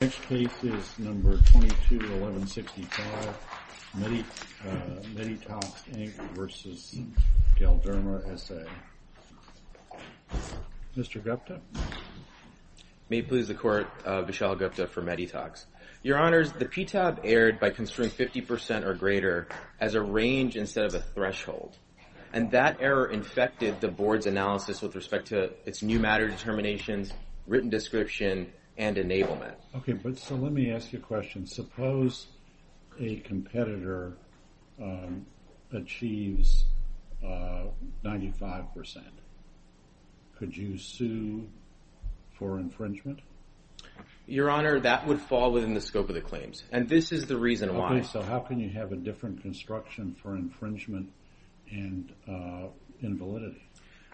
The next case is No. 22-1165, Medytox, Inc. v. Galderma, S.A. Mr. Gupta? May it please the Court, Vishal Gupta for Medytox. Your Honors, the PTAB erred by considering 50% or greater as a range instead of a threshold, and that error infected the Board's analysis with respect to its new matter determinations, written description, and enablement. Okay, but so let me ask you a question. Suppose a competitor achieves 95%. Could you sue for infringement? Your Honor, that would fall within the scope of the claims, and this is the reason why. Okay, so how can you have a different construction for infringement and invalidity?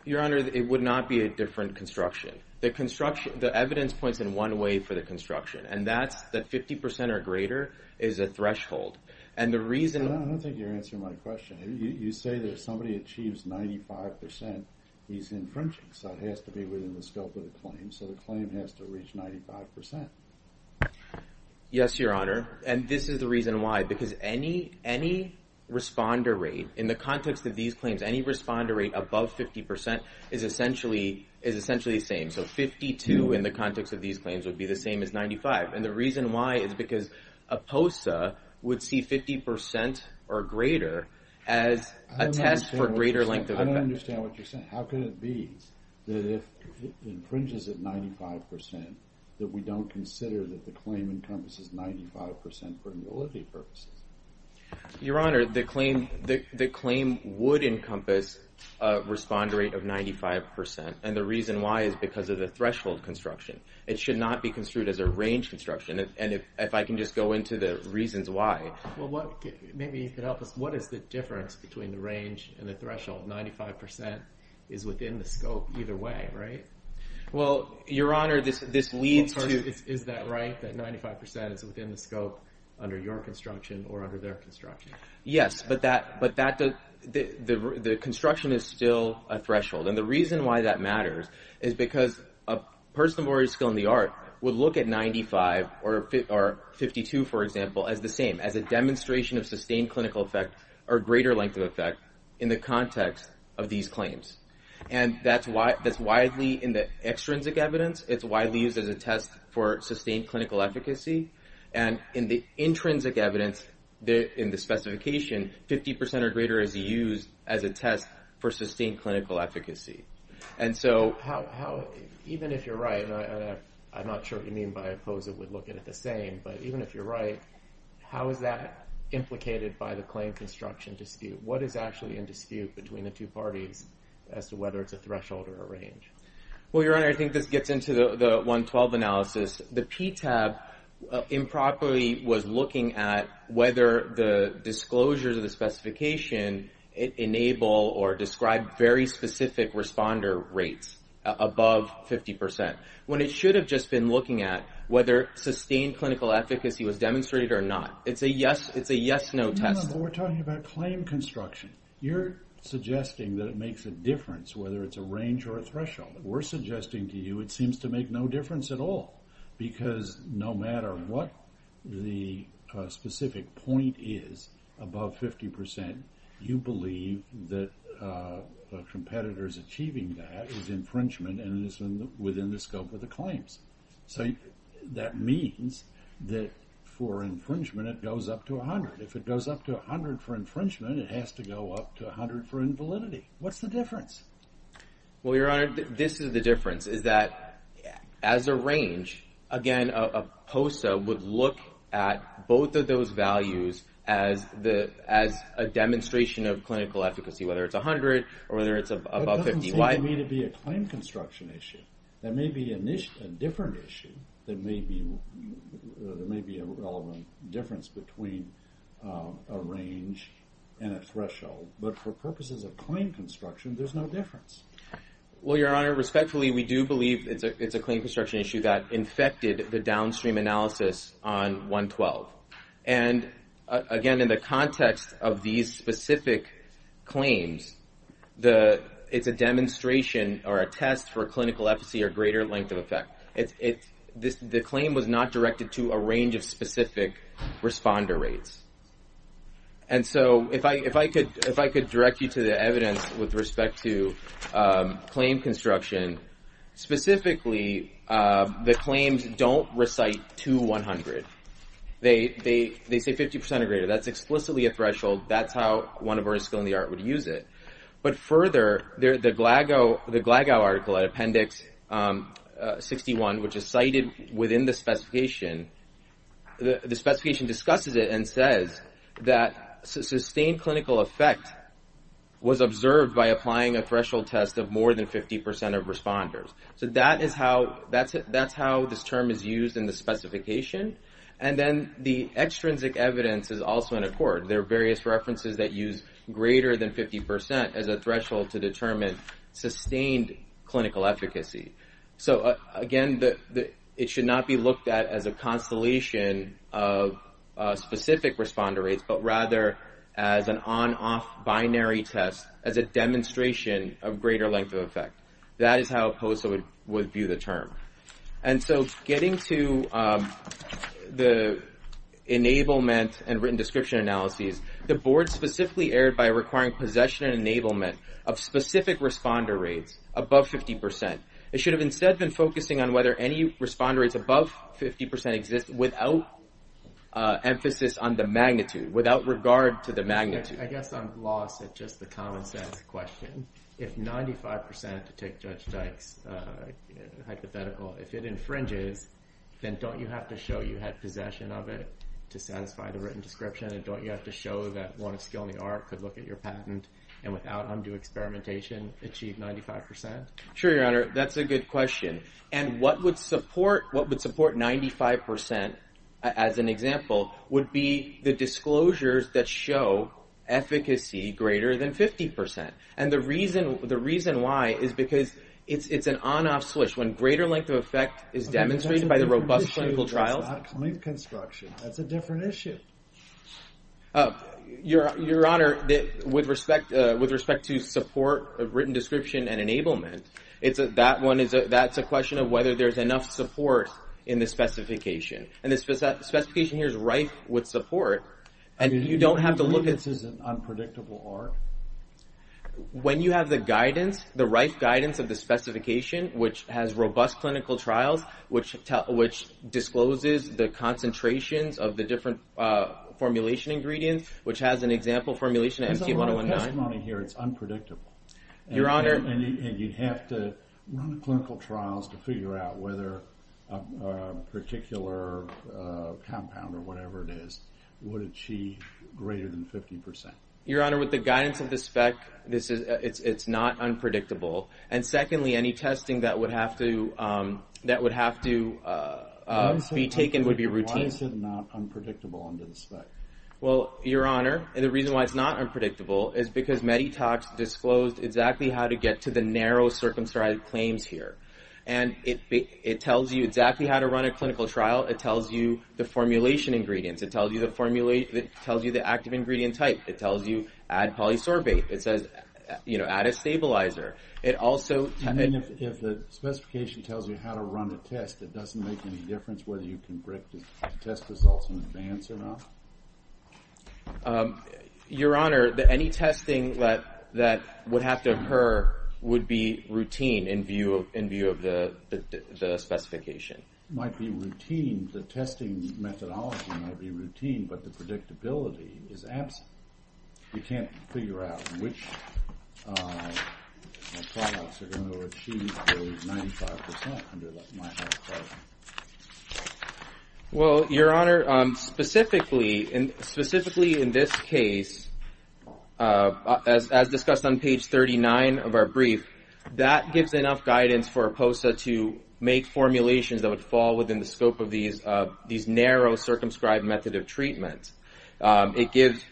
Your Honor, it would not be a different construction. The evidence points in one way for the construction, and that's that 50% or greater is a threshold. I don't think you're answering my question. You say that if somebody achieves 95%, he's infringing, so it has to be within the scope of the claim, so the claim has to reach 95%. Yes, Your Honor, and this is the reason why, because any responder rate, in the context of these claims, any responder rate above 50% is essentially the same, so 52 in the context of these claims would be the same as 95, and the reason why is because a POSA would see 50% or greater as a test for greater length of effect. I don't understand what you're saying. How can it be that if it infringes at 95% that we don't consider that the claim encompasses 95% for invalidity purposes? Your Honor, the claim would encompass a responder rate of 95%, and the reason why is because of the threshold construction. It should not be construed as a range construction, and if I can just go into the reasons why. Well, maybe you could help us. What is the difference between the range and the threshold? 95% is within the scope either way, right? Well, Your Honor, this leads to— Yes, but the construction is still a threshold, and the reason why that matters is because a person with a martial skill in the art would look at 95 or 52, for example, as the same, as a demonstration of sustained clinical effect or greater length of effect in the context of these claims, and that's widely in the extrinsic evidence. It's widely used as a test for sustained clinical efficacy, and in the intrinsic evidence in the specification, 50% or greater is used as a test for sustained clinical efficacy, and so— Even if you're right, and I'm not sure what you mean by I oppose it would look at it the same, but even if you're right, how is that implicated by the claim construction dispute? What is actually in dispute between the two parties as to whether it's a threshold or a range? Well, Your Honor, I think this gets into the 112 analysis. The PTAB improperly was looking at whether the disclosures of the specification enable or describe very specific responder rates above 50% when it should have just been looking at whether sustained clinical efficacy was demonstrated or not. It's a yes-no test. But we're talking about claim construction. You're suggesting that it makes a difference whether it's a range or a threshold. We're suggesting to you it seems to make no difference at all because no matter what the specific point is above 50%, you believe that the competitors achieving that is infringement and is within the scope of the claims. So that means that for infringement, it goes up to 100. If it goes up to 100 for infringement, it has to go up to 100 for invalidity. What's the difference? Well, Your Honor, this is the difference, is that as a range, again, a POSA would look at both of those values as a demonstration of clinical efficacy, whether it's 100 or whether it's above 50. It doesn't seem to me to be a claim construction issue. That may be a different issue. There may be a relevant difference between a range and a threshold. But for purposes of claim construction, there's no difference. Well, Your Honor, respectfully, we do believe it's a claim construction issue that infected the downstream analysis on 112. And again, in the context of these specific claims, it's a demonstration or a test for clinical efficacy or greater length of effect. The claim was not directed to a range of specific responder rates. And so if I could direct you to the evidence with respect to claim construction, specifically, the claims don't recite to 100. They say 50% or greater. That's explicitly a threshold. That's how one of our skill in the art would use it. But further, the Glagow article at Appendix 61, which is cited within the specification, the specification discusses it and says that sustained clinical effect was observed by applying a threshold test of more than 50% of responders. So that's how this term is used in the specification. And then the extrinsic evidence is also in accord. There are various references that use greater than 50% as a threshold to determine sustained clinical efficacy. So, again, it should not be looked at as a constellation of specific responder rates, but rather as an on-off binary test as a demonstration of greater length of effect. That is how POSA would view the term. And so getting to the enablement and written description analyses, the board specifically erred by requiring possession and enablement of specific responder rates above 50%. It should have instead been focusing on whether any responder rates above 50% exist without emphasis on the magnitude, without regard to the magnitude. I guess I'm lost at just the common sense question. If 95% to take Judge Dyke's hypothetical, if it infringes, then don't you have to show you had possession of it to satisfy the written description? And don't you have to show that one of skill in the art could look at your patent and without undue experimentation achieve 95%? Sure, Your Honor. That's a good question. And what would support 95%, as an example, would be the disclosures that show efficacy greater than 50%. And the reason why is because it's an on-off switch. When greater length of effect is demonstrated by the robust clinical trials. That's not complete construction. That's a different issue. Your Honor, with respect to support of written description and enablement, that's a question of whether there's enough support in the specification. And the specification here is rife with support. And you don't have to look at... I mean, do you believe this is an unpredictable art? When you have the guidance, the rife guidance of the specification, which has robust clinical trials, which discloses the concentrations of the different formulation ingredients, which has an example formulation, MT-1019... There's a lot of testimony here. It's unpredictable. Your Honor... And you'd have to run clinical trials to figure out whether a particular compound or whatever it is would achieve greater than 50%. Your Honor, with the guidance of the spec, it's not unpredictable. And secondly, any testing that would have to be taken would be routine. Why is it not unpredictable under the spec? Well, Your Honor, the reason why it's not unpredictable is because Meditox disclosed exactly how to get to the narrow circumscribed claims here. And it tells you exactly how to run a clinical trial. It tells you the formulation ingredients. It tells you the active ingredient type. It tells you add polysorbate. It says add a stabilizer. It also... You mean if the specification tells you how to run a test, it doesn't make any difference whether you can predict the test results in advance or not? Your Honor, any testing that would have to occur would be routine in view of the specification. Might be routine. The testing methodology might be routine, but the predictability is absent. You can't figure out which products are going to achieve the 95% under the MIHAC claim. Well, Your Honor, specifically in this case, as discussed on page 39 of our brief, that gives enough guidance for POSA to make formulations that would fall within the scope of these narrow circumscribed methods of treatment. It gives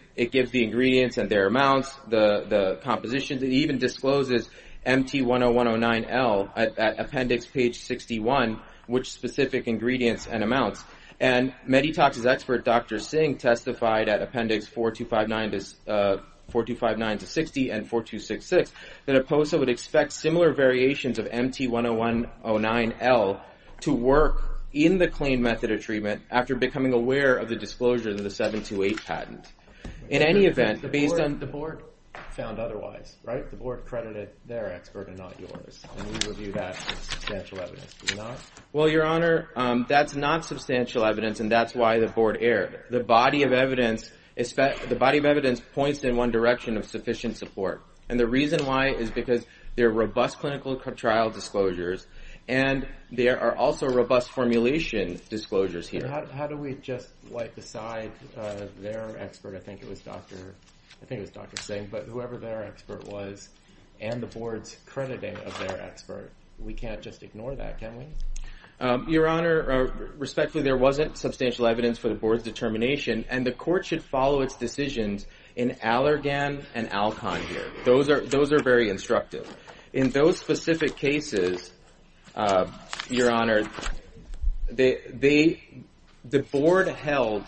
the ingredients and their amounts, the compositions. It even discloses MT-10109L at appendix page 61, which specific ingredients and amounts. And Meditox's expert, Dr. Singh, testified at appendix 4259-60 and 4266 that a POSA would expect similar variations of MT-10109L to work in the claim method of treatment after becoming aware of the disclosure of the 728 patent. In any event, based on... The board found otherwise, right? The board credited their expert and not yours. And we review that as substantial evidence, do we not? Well, Your Honor, that's not substantial evidence, and that's why the board erred. The body of evidence points in one direction of sufficient support. And the reason why is because there are robust clinical trial disclosures, and there are also robust formulation disclosures here. How do we just decide their expert? I think it was Dr. Singh. But whoever their expert was and the board's crediting of their expert, we can't just ignore that, can we? Your Honor, respectfully, there wasn't substantial evidence for the board's determination, and the court should follow its decisions in Allergan and Alcon here. Those are very instructive. In those specific cases, Your Honor, the board held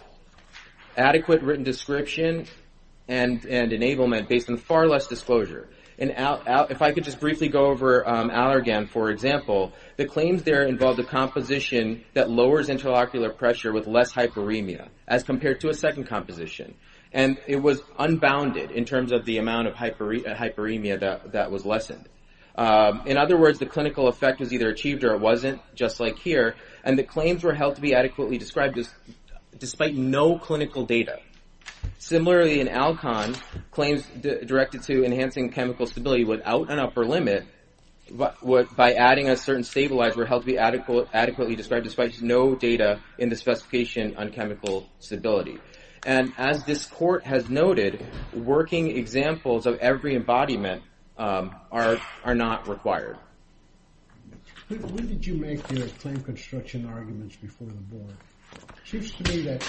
adequate written description and enablement based on far less disclosure. If I could just briefly go over Allergan, for example, the claims there involved a composition that lowers interocular pressure with less hyperemia as compared to a second composition. And it was unbounded in terms of the amount of hyperemia that was lessened. In other words, the clinical effect was either achieved or it wasn't, just like here, and the claims were held to be adequately described despite no clinical data. Similarly, in Alcon, claims directed to enhancing chemical stability without an upper limit by adding a certain stabilizer were held to be adequately described despite no data in the specification on chemical stability. And as this court has noted, working examples of every embodiment are not required. When did you make your claim construction arguments before the board? It seems to me that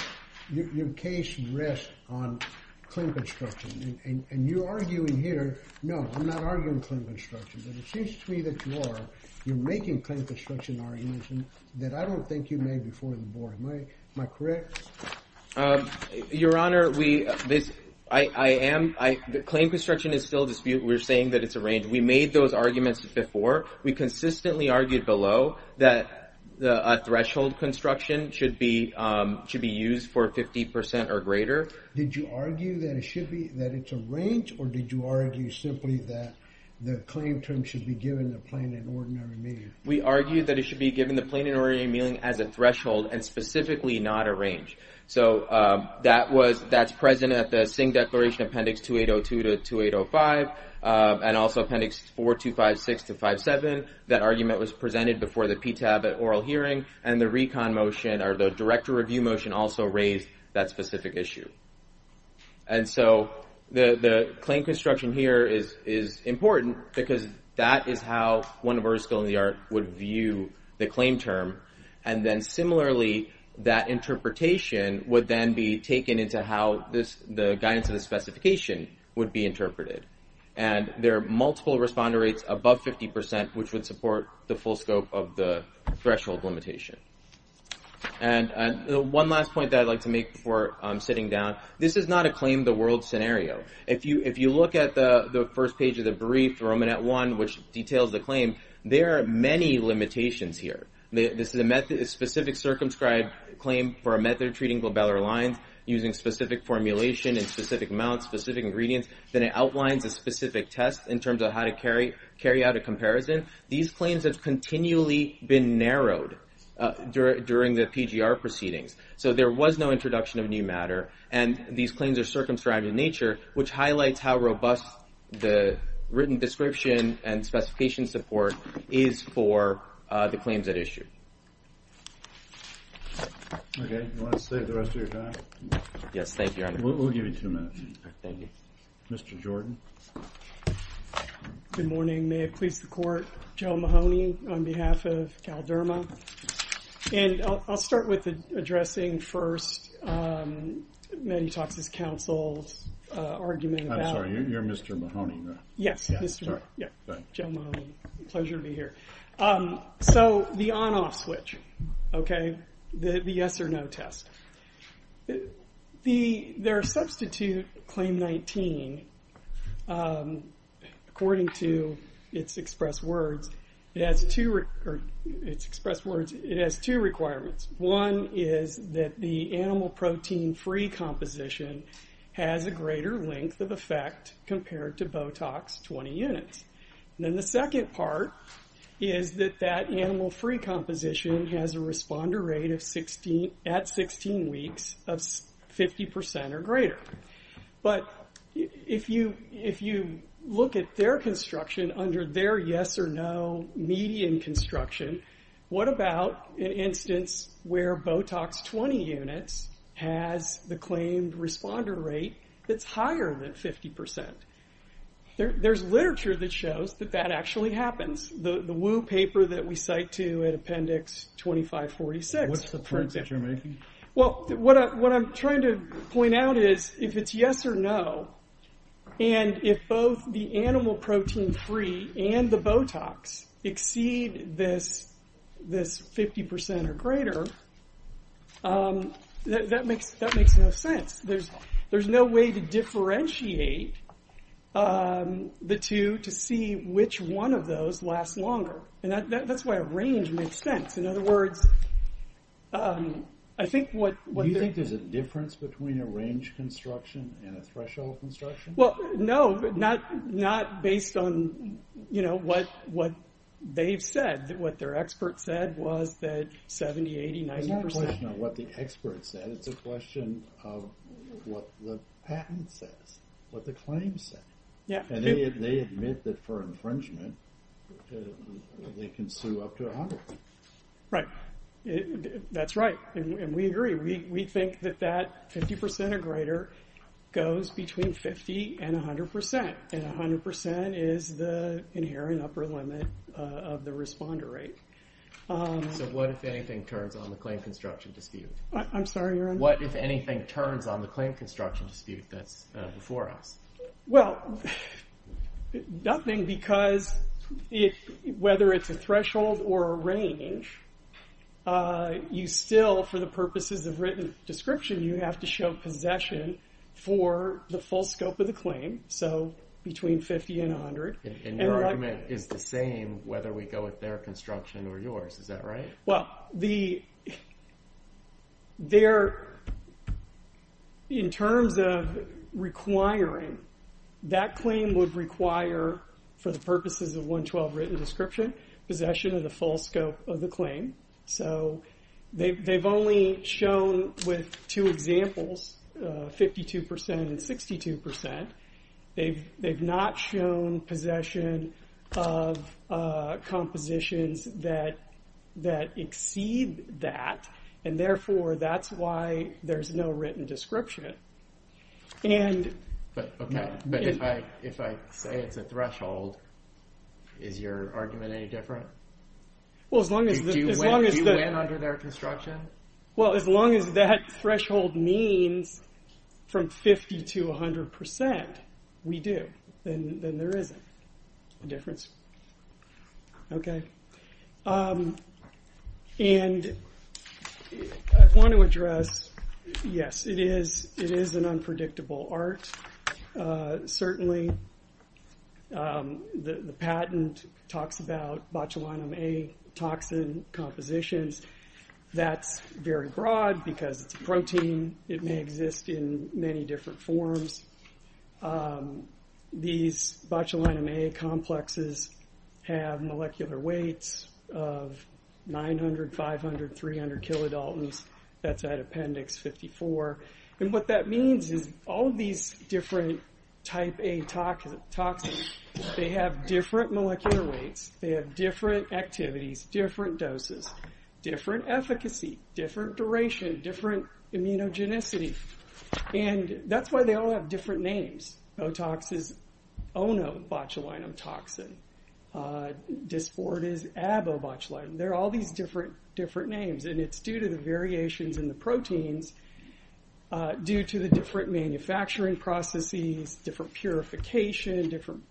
your case rests on claim construction, and you're arguing here. No, I'm not arguing claim construction, but it seems to me that you are. You're making claim construction arguments that I don't think you made before the board. Am I correct? Your Honor, claim construction is still a dispute. We're saying that it's a range. We made those arguments before. We consistently argued below that a threshold construction should be used for 50% or greater. Did you argue that it's a range, or did you argue simply that the claim term should be given the plain and ordinary meaning? and specifically not a range. So that's present at the Singh Declaration Appendix 2802-2805, and also Appendix 4256-57. That argument was presented before the PTAB at oral hearing, and the director review motion also raised that specific issue. And so the claim construction here is important because that is how one of our schools of the art would view the claim term. And then similarly, that interpretation would then be taken into how the guidance of the specification would be interpreted. And there are multiple responder rates above 50%, which would support the full scope of the threshold limitation. And one last point that I'd like to make before sitting down, this is not a claim the world scenario. If you look at the first page of the brief, Romanet 1, which details the claim, there are many limitations here. This is a specific circumscribed claim for a method of treating glabellar lines using specific formulation and specific amounts, specific ingredients. Then it outlines a specific test in terms of how to carry out a comparison. These claims have continually been narrowed during the PGR proceedings, so there was no introduction of new matter. And these claims are circumscribed in nature, which highlights how robust the written description and specification support is for the claims at issue. Okay. You want to save the rest of your time? Yes, thank you. We'll give you two minutes. Thank you. Mr. Jordan. Good morning. May it please the Court. Joe Mahoney on behalf of Calderma. And I'll start with addressing first Matty Talks' counsel's argument about You're Mr. Mahoney, right? Yes. Joe Mahoney. Pleasure to be here. So the on-off switch. Okay. The yes or no test. Their substitute claim 19, according to its express words, it has two requirements. One is that the animal protein-free composition has a greater length of effect compared to Botox 20 units. And then the second part is that that animal-free composition has a responder rate at 16 weeks of 50% or greater. But if you look at their construction under their yes or no median construction, what about an instance where Botox 20 units has the claimed responder rate that's higher than 50%? There's literature that shows that that actually happens. The Wu paper that we cite to in Appendix 2546. What's the point that you're making? Well, what I'm trying to point out is if it's yes or no, and if both the animal protein-free and the Botox exceed this 50% or greater, that makes no sense. There's no way to differentiate the two to see which one of those lasts longer. And that's why a range makes sense. In other words, I think what they're... Well, no, not based on what they've said. What their expert said was that 70%, 80%, 90%. It's not a question of what the expert said. It's a question of what the patent says, what the claims say. And they admit that for infringement, they can sue up to a hundred people. Right. That's right, and we agree. We think that that 50% or greater goes between 50% and 100%, and 100% is the inherent upper limit of the responder rate. So what, if anything, turns on the claim construction dispute? I'm sorry, your honor? What, if anything, turns on the claim construction dispute that's before us? Well, nothing, because whether it's a threshold or a range, you still, for the purposes of written description, you have to show possession for the full scope of the claim, so between 50% and 100%. And your argument is the same whether we go with their construction or yours. Is that right? Well, in terms of requiring, that claim would require, for the purposes of 112 written description, possession of the full scope of the claim. So they've only shown with two examples, 52% and 62%. They've not shown possession of compositions that exceed that, and therefore that's why there's no written description. But if I say it's a threshold, is your argument any different? Do you win under their construction? Well, as long as that threshold means from 50% to 100%, we do. Then there isn't a difference. Okay. And I want to address, yes, it is an unpredictable art, certainly. The patent talks about botulinum A toxin compositions. That's very broad because it's a protein. It may exist in many different forms. These botulinum A complexes have molecular weights of 900, 500, 300 kilodaltons. That's at appendix 54. And what that means is all these different type A toxins, they have different molecular weights. They have different activities, different doses, different efficacy, different duration, different immunogenicity. And that's why they all have different names. Otox is onobotulinum toxin. Dysport is abobotulinum. There are all these different names, and it's due to the variations in the proteins, due to the different manufacturing processes, different purification, different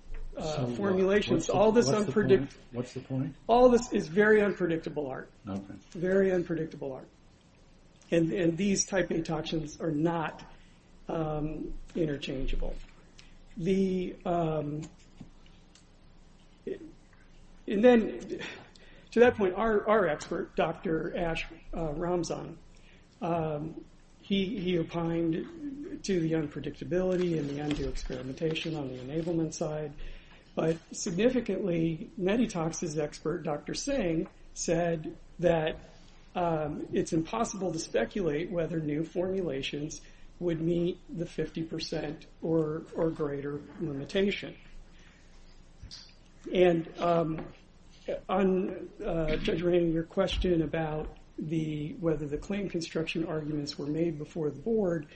formulations. What's the point? All this is very unpredictable art. Okay. Very unpredictable art. And these type A toxins are not interchangeable. To that point, our expert, Dr. Ash Ramzan, he opined to the unpredictability and the undue experimentation on the enablement side. But significantly, Meditox's expert, Dr. Singh, said that it's impossible to speculate whether new formulations would meet the 50% or greater limitation. And on, Judge Raymond, your question about whether the claim construction arguments were made before the board,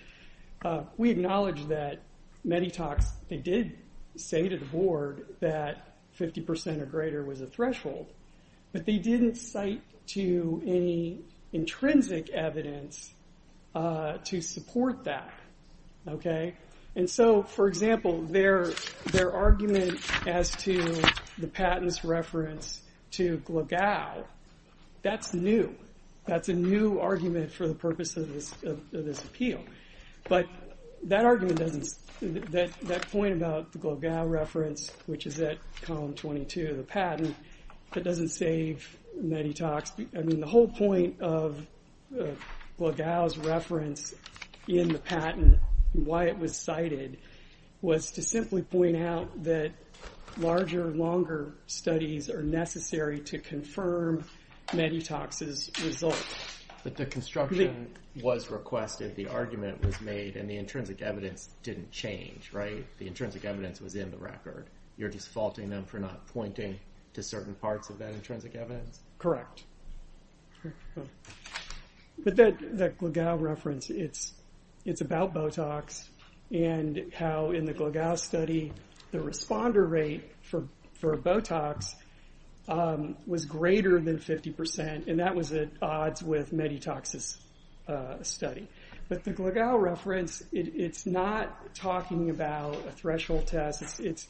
we acknowledge that Meditox, they did say to the board that 50% or greater was a threshold. But they didn't cite to any intrinsic evidence to support that. Okay. And so, for example, their argument as to the patent's reference to Glogau, that's new. That's a new argument for the purpose of this appeal. But that argument doesn't, that point about the Glogau reference, which is at column 22 of the patent, that doesn't save Meditox. I mean, the whole point of Glogau's reference in the patent, why it was cited, was to simply point out that larger, longer studies are necessary to confirm Meditox's result. But the construction was requested, the argument was made, and the intrinsic evidence didn't change, right? The intrinsic evidence was in the record. You're just faulting them for not pointing to certain parts of that intrinsic evidence? Correct. But that Glogau reference, it's about Botox, and how in the Glogau study, the responder rate for Botox was greater than 50%, and that was at odds with Meditox's study. But the Glogau reference, it's not talking about a threshold test. It's,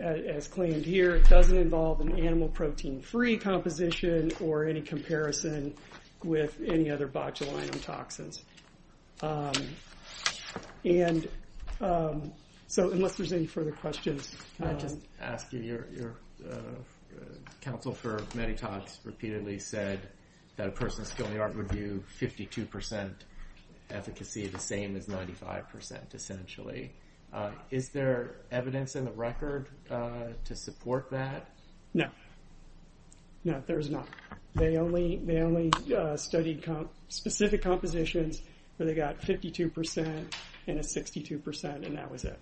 as claimed here, it doesn't involve an animal protein-free composition or any comparison with any other botulinum toxins. And so, unless there's any further questions. Can I just ask you, your counsel for Meditox repeatedly said that a person's skill in the art review, 52% efficacy, the same as 95%, essentially. Is there evidence in the record to support that? No. No, there's not. They only studied specific compositions where they got 52% and a 62%, and that was it.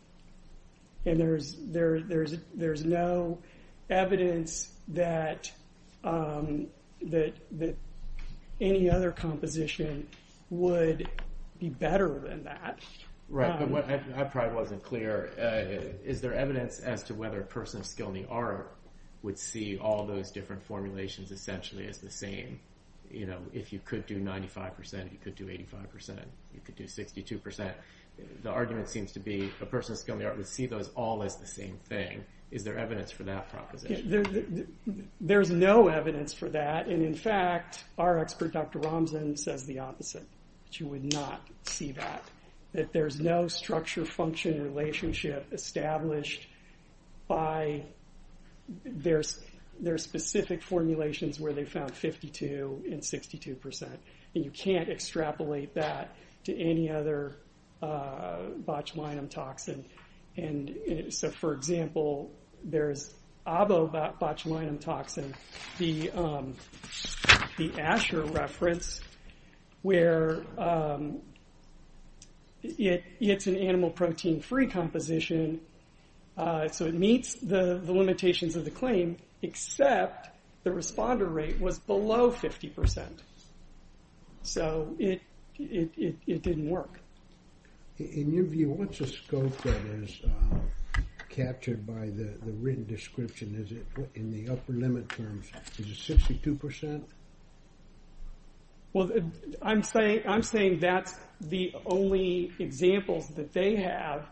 And there's no evidence that any other composition would be better than that. Right, but what I probably wasn't clear, is there evidence as to whether a person of skill in the art would see all those different formulations essentially as the same? You know, if you could do 95%, you could do 85%, you could do 62%. The argument seems to be a person of skill in the art would see those all as the same thing. Is there evidence for that proposition? There's no evidence for that. And in fact, our expert, Dr. Ramzan, says the opposite. She would not see that. That there's no structure-function relationship established by their specific formulations where they found 52% and 62%. And you can't extrapolate that to any other botulinum toxin. So for example, there's ABO botulinum toxin, the Asher reference, where it's an animal protein-free composition, so it meets the limitations of the claim, except the responder rate was below 50%. So it didn't work. In your view, what's the scope that is captured by the written description? In the upper limit terms, is it 62%? Well, I'm saying that's the only examples that they have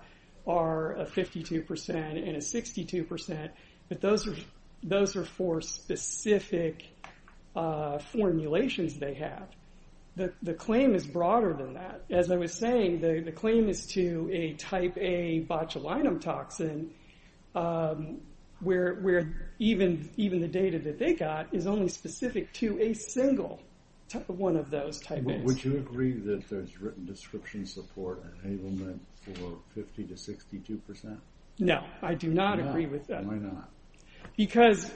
are a 52% and a 62%, but those are for specific formulations they have. The claim is broader than that. As I was saying, the claim is to a type A botulinum toxin where even the data that they got is only specific to a single one of those type A's. Would you agree that there's written description support and enablement for 50% to 62%? No, I do not agree with that. Why not? Because,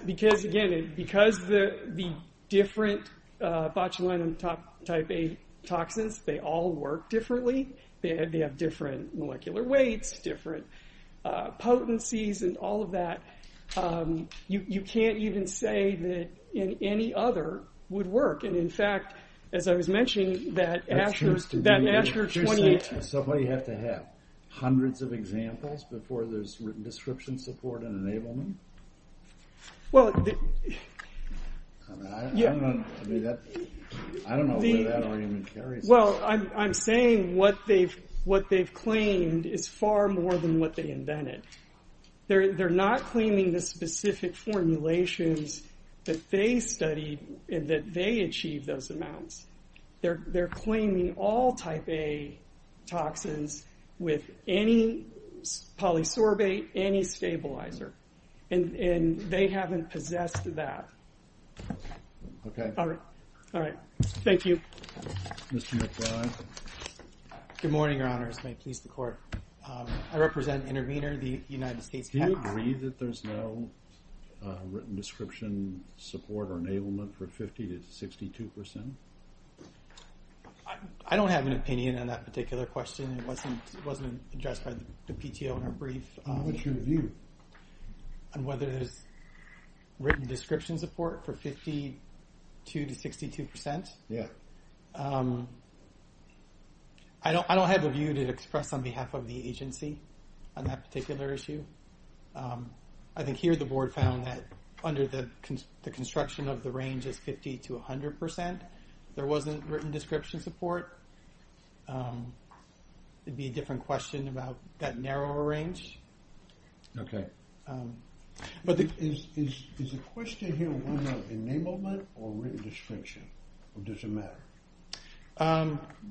again, because the different botulinum type A toxins, they all work differently, they have different molecular weights, different potencies, and all of that, you can't even say that any other would work. And in fact, as I was mentioning, that Asher 2018... There's written description support and enablement? I don't know where that argument carries. Well, I'm saying what they've claimed is far more than what they invented. They're not claiming the specific formulations that they studied and that they achieved those amounts. They're claiming all type A toxins with any polysorbate, any stabilizer, and they haven't possessed that. Okay. All right. Thank you. Mr. McBride. Good morning, Your Honors. May it please the Court. I represent Intervenor, the United States... Do you agree that there's no written description support or enablement for 50% to 62%? I don't have an opinion on that particular question. It wasn't addressed by the PTO in our brief. What's your view? On whether there's written description support for 52% to 62%. Yeah. I don't have a view to express on behalf of the agency on that particular issue. I think here the Board found that under the construction of the range as 50% to 100%, there wasn't written description support. It'd be a different question about that narrower range. Okay. Is the question here one of enablement or written description? Or does it matter?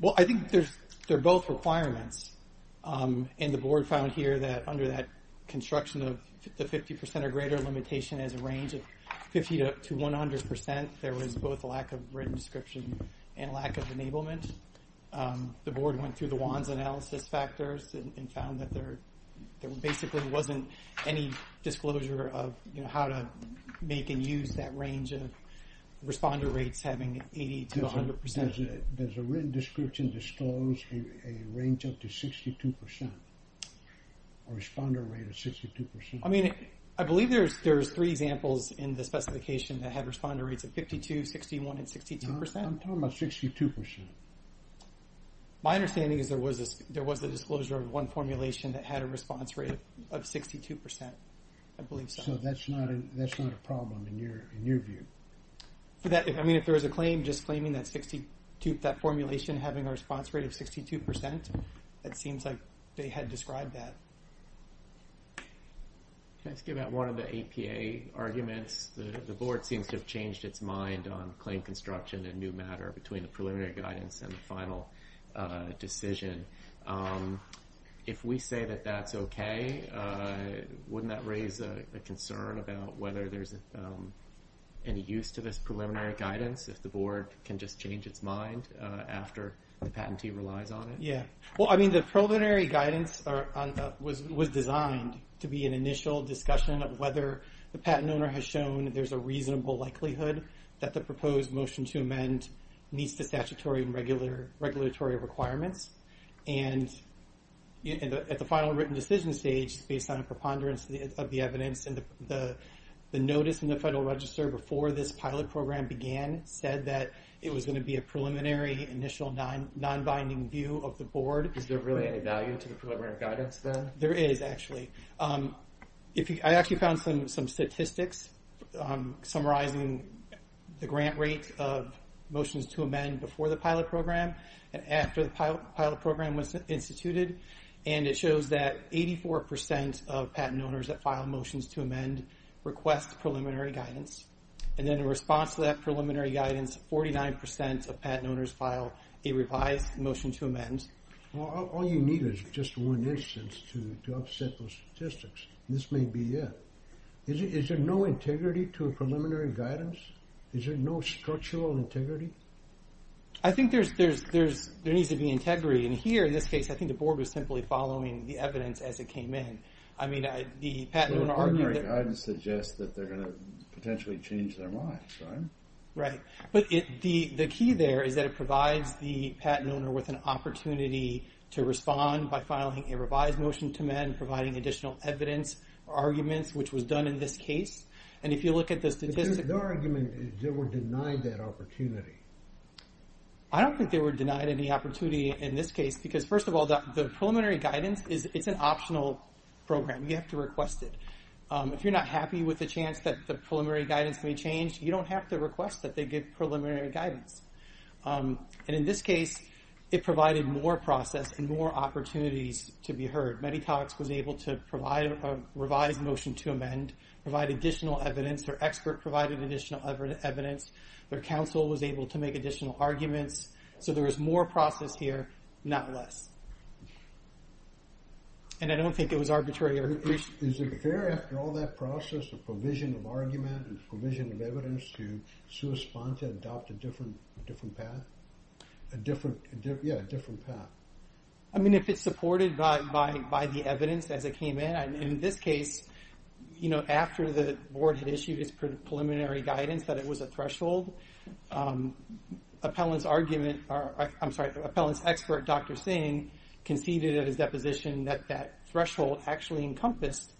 Well, I think they're both requirements. And the Board found here that under that construction of the 50% or greater limitation as a range of 50% to 100%, there was both a lack of written description and lack of enablement. The Board went through the WANs analysis factors and found that there basically wasn't any disclosure of how to make and use that range of responder rates having 80% to 100%. Does a written description disclose a range up to 62%? A responder rate of 62%? I mean, I believe there's three examples in the specification that have responder rates of 52%, 61%, and 62%. I'm talking about 62%. My understanding is there was a disclosure of one formulation that had a response rate of 62%, I believe so. So that's not a problem in your view? I mean, if there was a claim just claiming that formulation having a response rate of 62%, it seems like they had described that. Can I ask you about one of the APA arguments? The Board seems to have changed its mind on claim construction and new matter between the preliminary guidance and the final decision. If we say that that's okay, wouldn't that raise a concern about whether there's any use to this preliminary guidance if the Board can just change its mind after the patentee relies on it? Yeah. Well, I mean, the preliminary guidance was designed to be an initial discussion of whether the patent owner has shown there's a reasonable likelihood that the proposed motion to amend meets the statutory and regulatory requirements. And at the final written decision stage, based on a preponderance of the evidence and the notice in the Federal Register before this pilot program began, said that it was going to be a preliminary, initial, non-binding view of the Board. Is there really any value to the preliminary guidance then? There is, actually. I actually found some statistics summarizing the grant rate of motions to amend before the pilot program and after the pilot program was instituted. And it shows that 84% of patent owners that file motions to amend request preliminary guidance. And then in response to that preliminary guidance, 49% of patent owners file a revised motion to amend. Well, all you need is just one instance to offset those statistics. This may be it. Is there no integrity to a preliminary guidance? Is there no structural integrity? I think there needs to be integrity. And here, in this case, I think the Board was simply following the evidence as it came in. I mean, the patent owner argued that... The preliminary guidance suggests that they're going to potentially change their minds, right? Right. But the key there is that it provides the patent owner with an opportunity to respond by filing a revised motion to amend, providing additional evidence or arguments, which was done in this case. And if you look at the statistics... Their argument is they were denied that opportunity. I don't think they were denied any opportunity in this case because, first of all, the preliminary guidance is an optional program. You have to request it. If you're not happy with the chance that the preliminary guidance may change, you don't have to request that they give preliminary guidance. And in this case, it provided more process and more opportunities to be heard. Meditox was able to provide a revised motion to amend, provide additional evidence. Their expert provided additional evidence. Their counsel was able to make additional arguments. So there was more process here, not less. And I don't think it was arbitrary. Is it fair after all that process there's a provision of argument and provision of evidence to respond to adopt a different path? Yeah, a different path. I mean, if it's supported by the evidence as it came in, in this case, you know, after the board had issued its preliminary guidance that it was a threshold, appellant's argument... I'm sorry, appellant's expert, Dr. Singh, conceded at his deposition that that threshold actually encompassed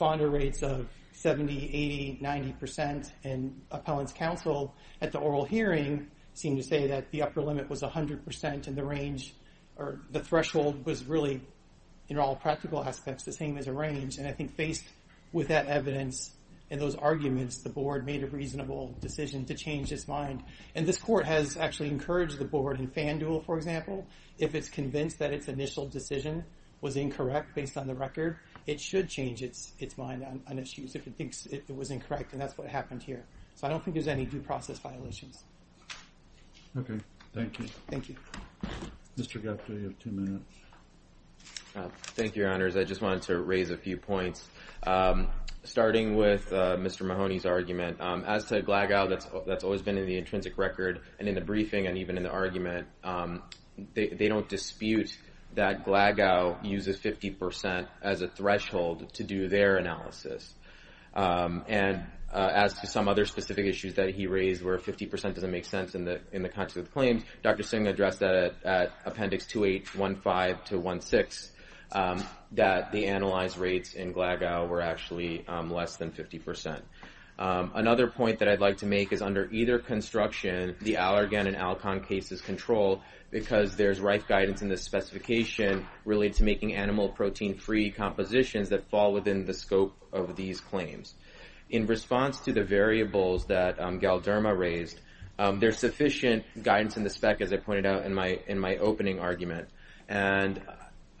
under rates of 70%, 80%, 90% and appellant's counsel at the oral hearing seemed to say that the upper limit was 100% and the range or the threshold was really, in all practical aspects, the same as a range. And I think based with that evidence and those arguments, the board made a reasonable decision to change its mind. And this court has actually encouraged the board in FanDuel, for example, if it's convinced that its initial decision was incorrect based on the record, it should change its mind on issues if it thinks it was incorrect, and that's what happened here. So I don't think there's any due process violations. Okay, thank you. Thank you. Mr. Gupta, you have two minutes. Thank you, Your Honors. I just wanted to raise a few points. Starting with Mr. Mahoney's argument, as to Glagau, that's always been in the intrinsic record and in the briefing and even in the argument, they don't dispute that Glagau uses 50% as a threshold to do their analysis. And as to some other specific issues that he raised where 50% doesn't make sense in the context of the claims, Dr. Singh addressed that at Appendix 2815-16, that the analyzed rates in Glagau were actually less than 50%. Another point that I'd like to make is under either construction, the Allergan and Alcon cases control, because there's right guidance in the specification related to making animal protein-free compositions that fall within the scope of these claims. In response to the variables that Galderma raised, there's sufficient guidance in the spec, as I pointed out in my opening argument. And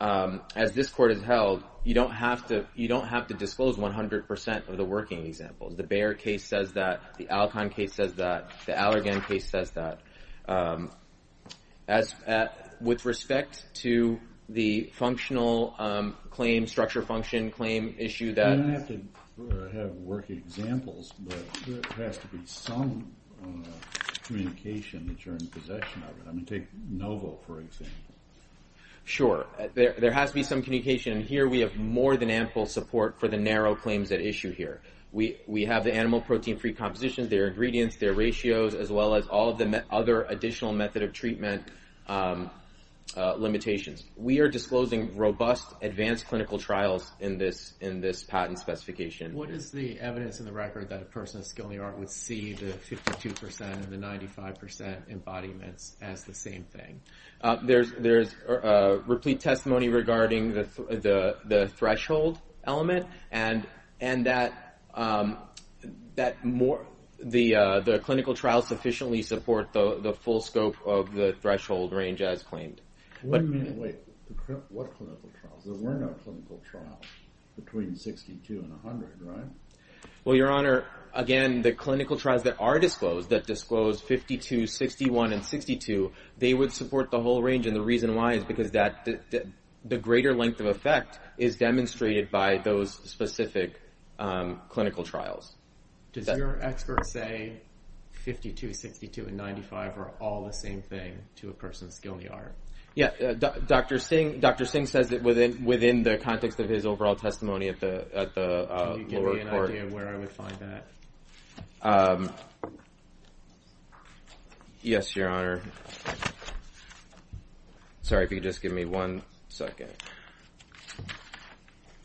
as this Court has held, you don't have to disclose 100% of the working examples. The Bayer case says that, the Alcon case says that, the Allergan case says that. With respect to the functional claim, structure function claim issue that... You don't have to have working examples, but there has to be some communication that you're in possession of. I mean, take NOVO, for example. Sure, there has to be some communication, and here we have more than ample support for the narrow claims at issue here. We have the animal protein-free compositions, their ingredients, their ratios, as well as all of the other additional method of treatment limitations. We are disclosing robust advanced clinical trials in this patent specification. What is the evidence in the record that a person of skill in the art would see the 52% and the 95% embodiments as the same thing? There's replete testimony regarding the threshold element, and that the clinical trials sufficiently support the full scope of the threshold range as claimed. Wait, what clinical trials? There were no clinical trials between 62 and 100, right? Well, Your Honor, again, the clinical trials that are disclosed, that disclose 52, 61, and 62, they would support the whole range, and the reason why is because the greater length of effect is demonstrated by those specific clinical trials. Does your expert say 52, 62, and 95 are all the same thing to a person of skill in the art? Yeah, Dr. Singh says that within the context of his overall testimony at the lower court. Can you give me an idea of where I would find that? Yes, Your Honor. Sorry, if you could just give me one second.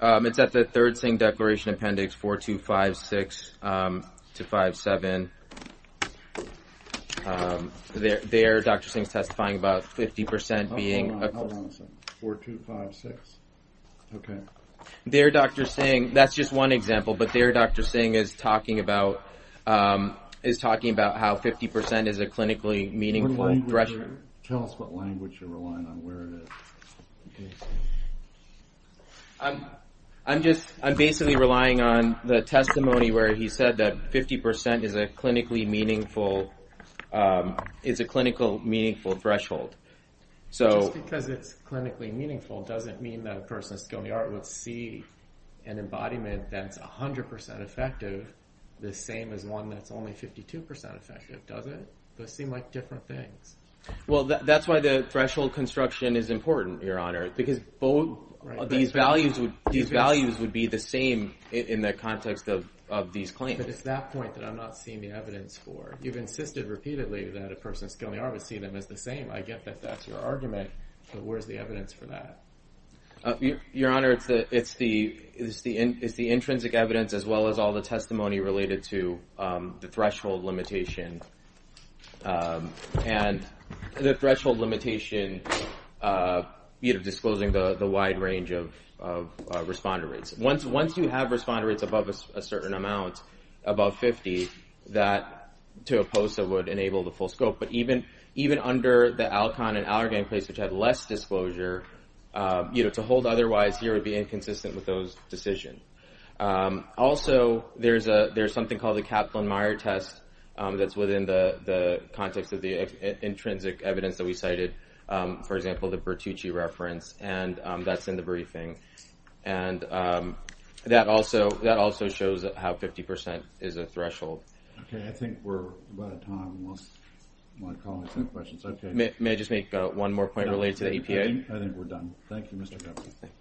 It's at the 3rd Singh Declaration Appendix 4256-57. There, Dr. Singh is testifying about 50% being... Hold on a second. 4256, okay. There, Dr. Singh, that's just one example, but there, Dr. Singh is talking about how 50% is a clinically meaningful threshold. Tell us what language you're relying on, where it is. I'm just, I'm basically relying on the testimony where he said that 50% is a clinically meaningful, is a clinically meaningful threshold. Just because it's clinically meaningful doesn't mean that a person of skill in the art would see an embodiment that's 100% effective the same as one that's only 52% effective, does it? Those seem like different things. Well, that's why the threshold construction is important, Your Honor, because both of these values would be the same in the context of these claims. But it's that point that I'm not seeing the evidence for. You've insisted repeatedly that a person of skill in the art would see them as the same. I get that that's your argument, but where's the evidence for that? Your Honor, it's the intrinsic evidence as well as all the testimony related to the threshold limitation. And the threshold limitation disclosing the wide range of responder rates. Once you have responder rates above a certain amount, above 50, that to a POSA would enable the full scope. But even under the ALCON and Allergan claims which had less disclosure, to hold otherwise here would be inconsistent with those decisions. Also, there's something called the Kaplan-Meier test that's within the context of the intrinsic evidence that we cited. For example, the Bertucci reference, and that's in the briefing. And that also shows how 50% is a threshold. Okay, I think we're about out of time. Unless my colleagues have questions. May I just make one more point related to the EPA? I think we're done. Thank you, Mr. Cuffley.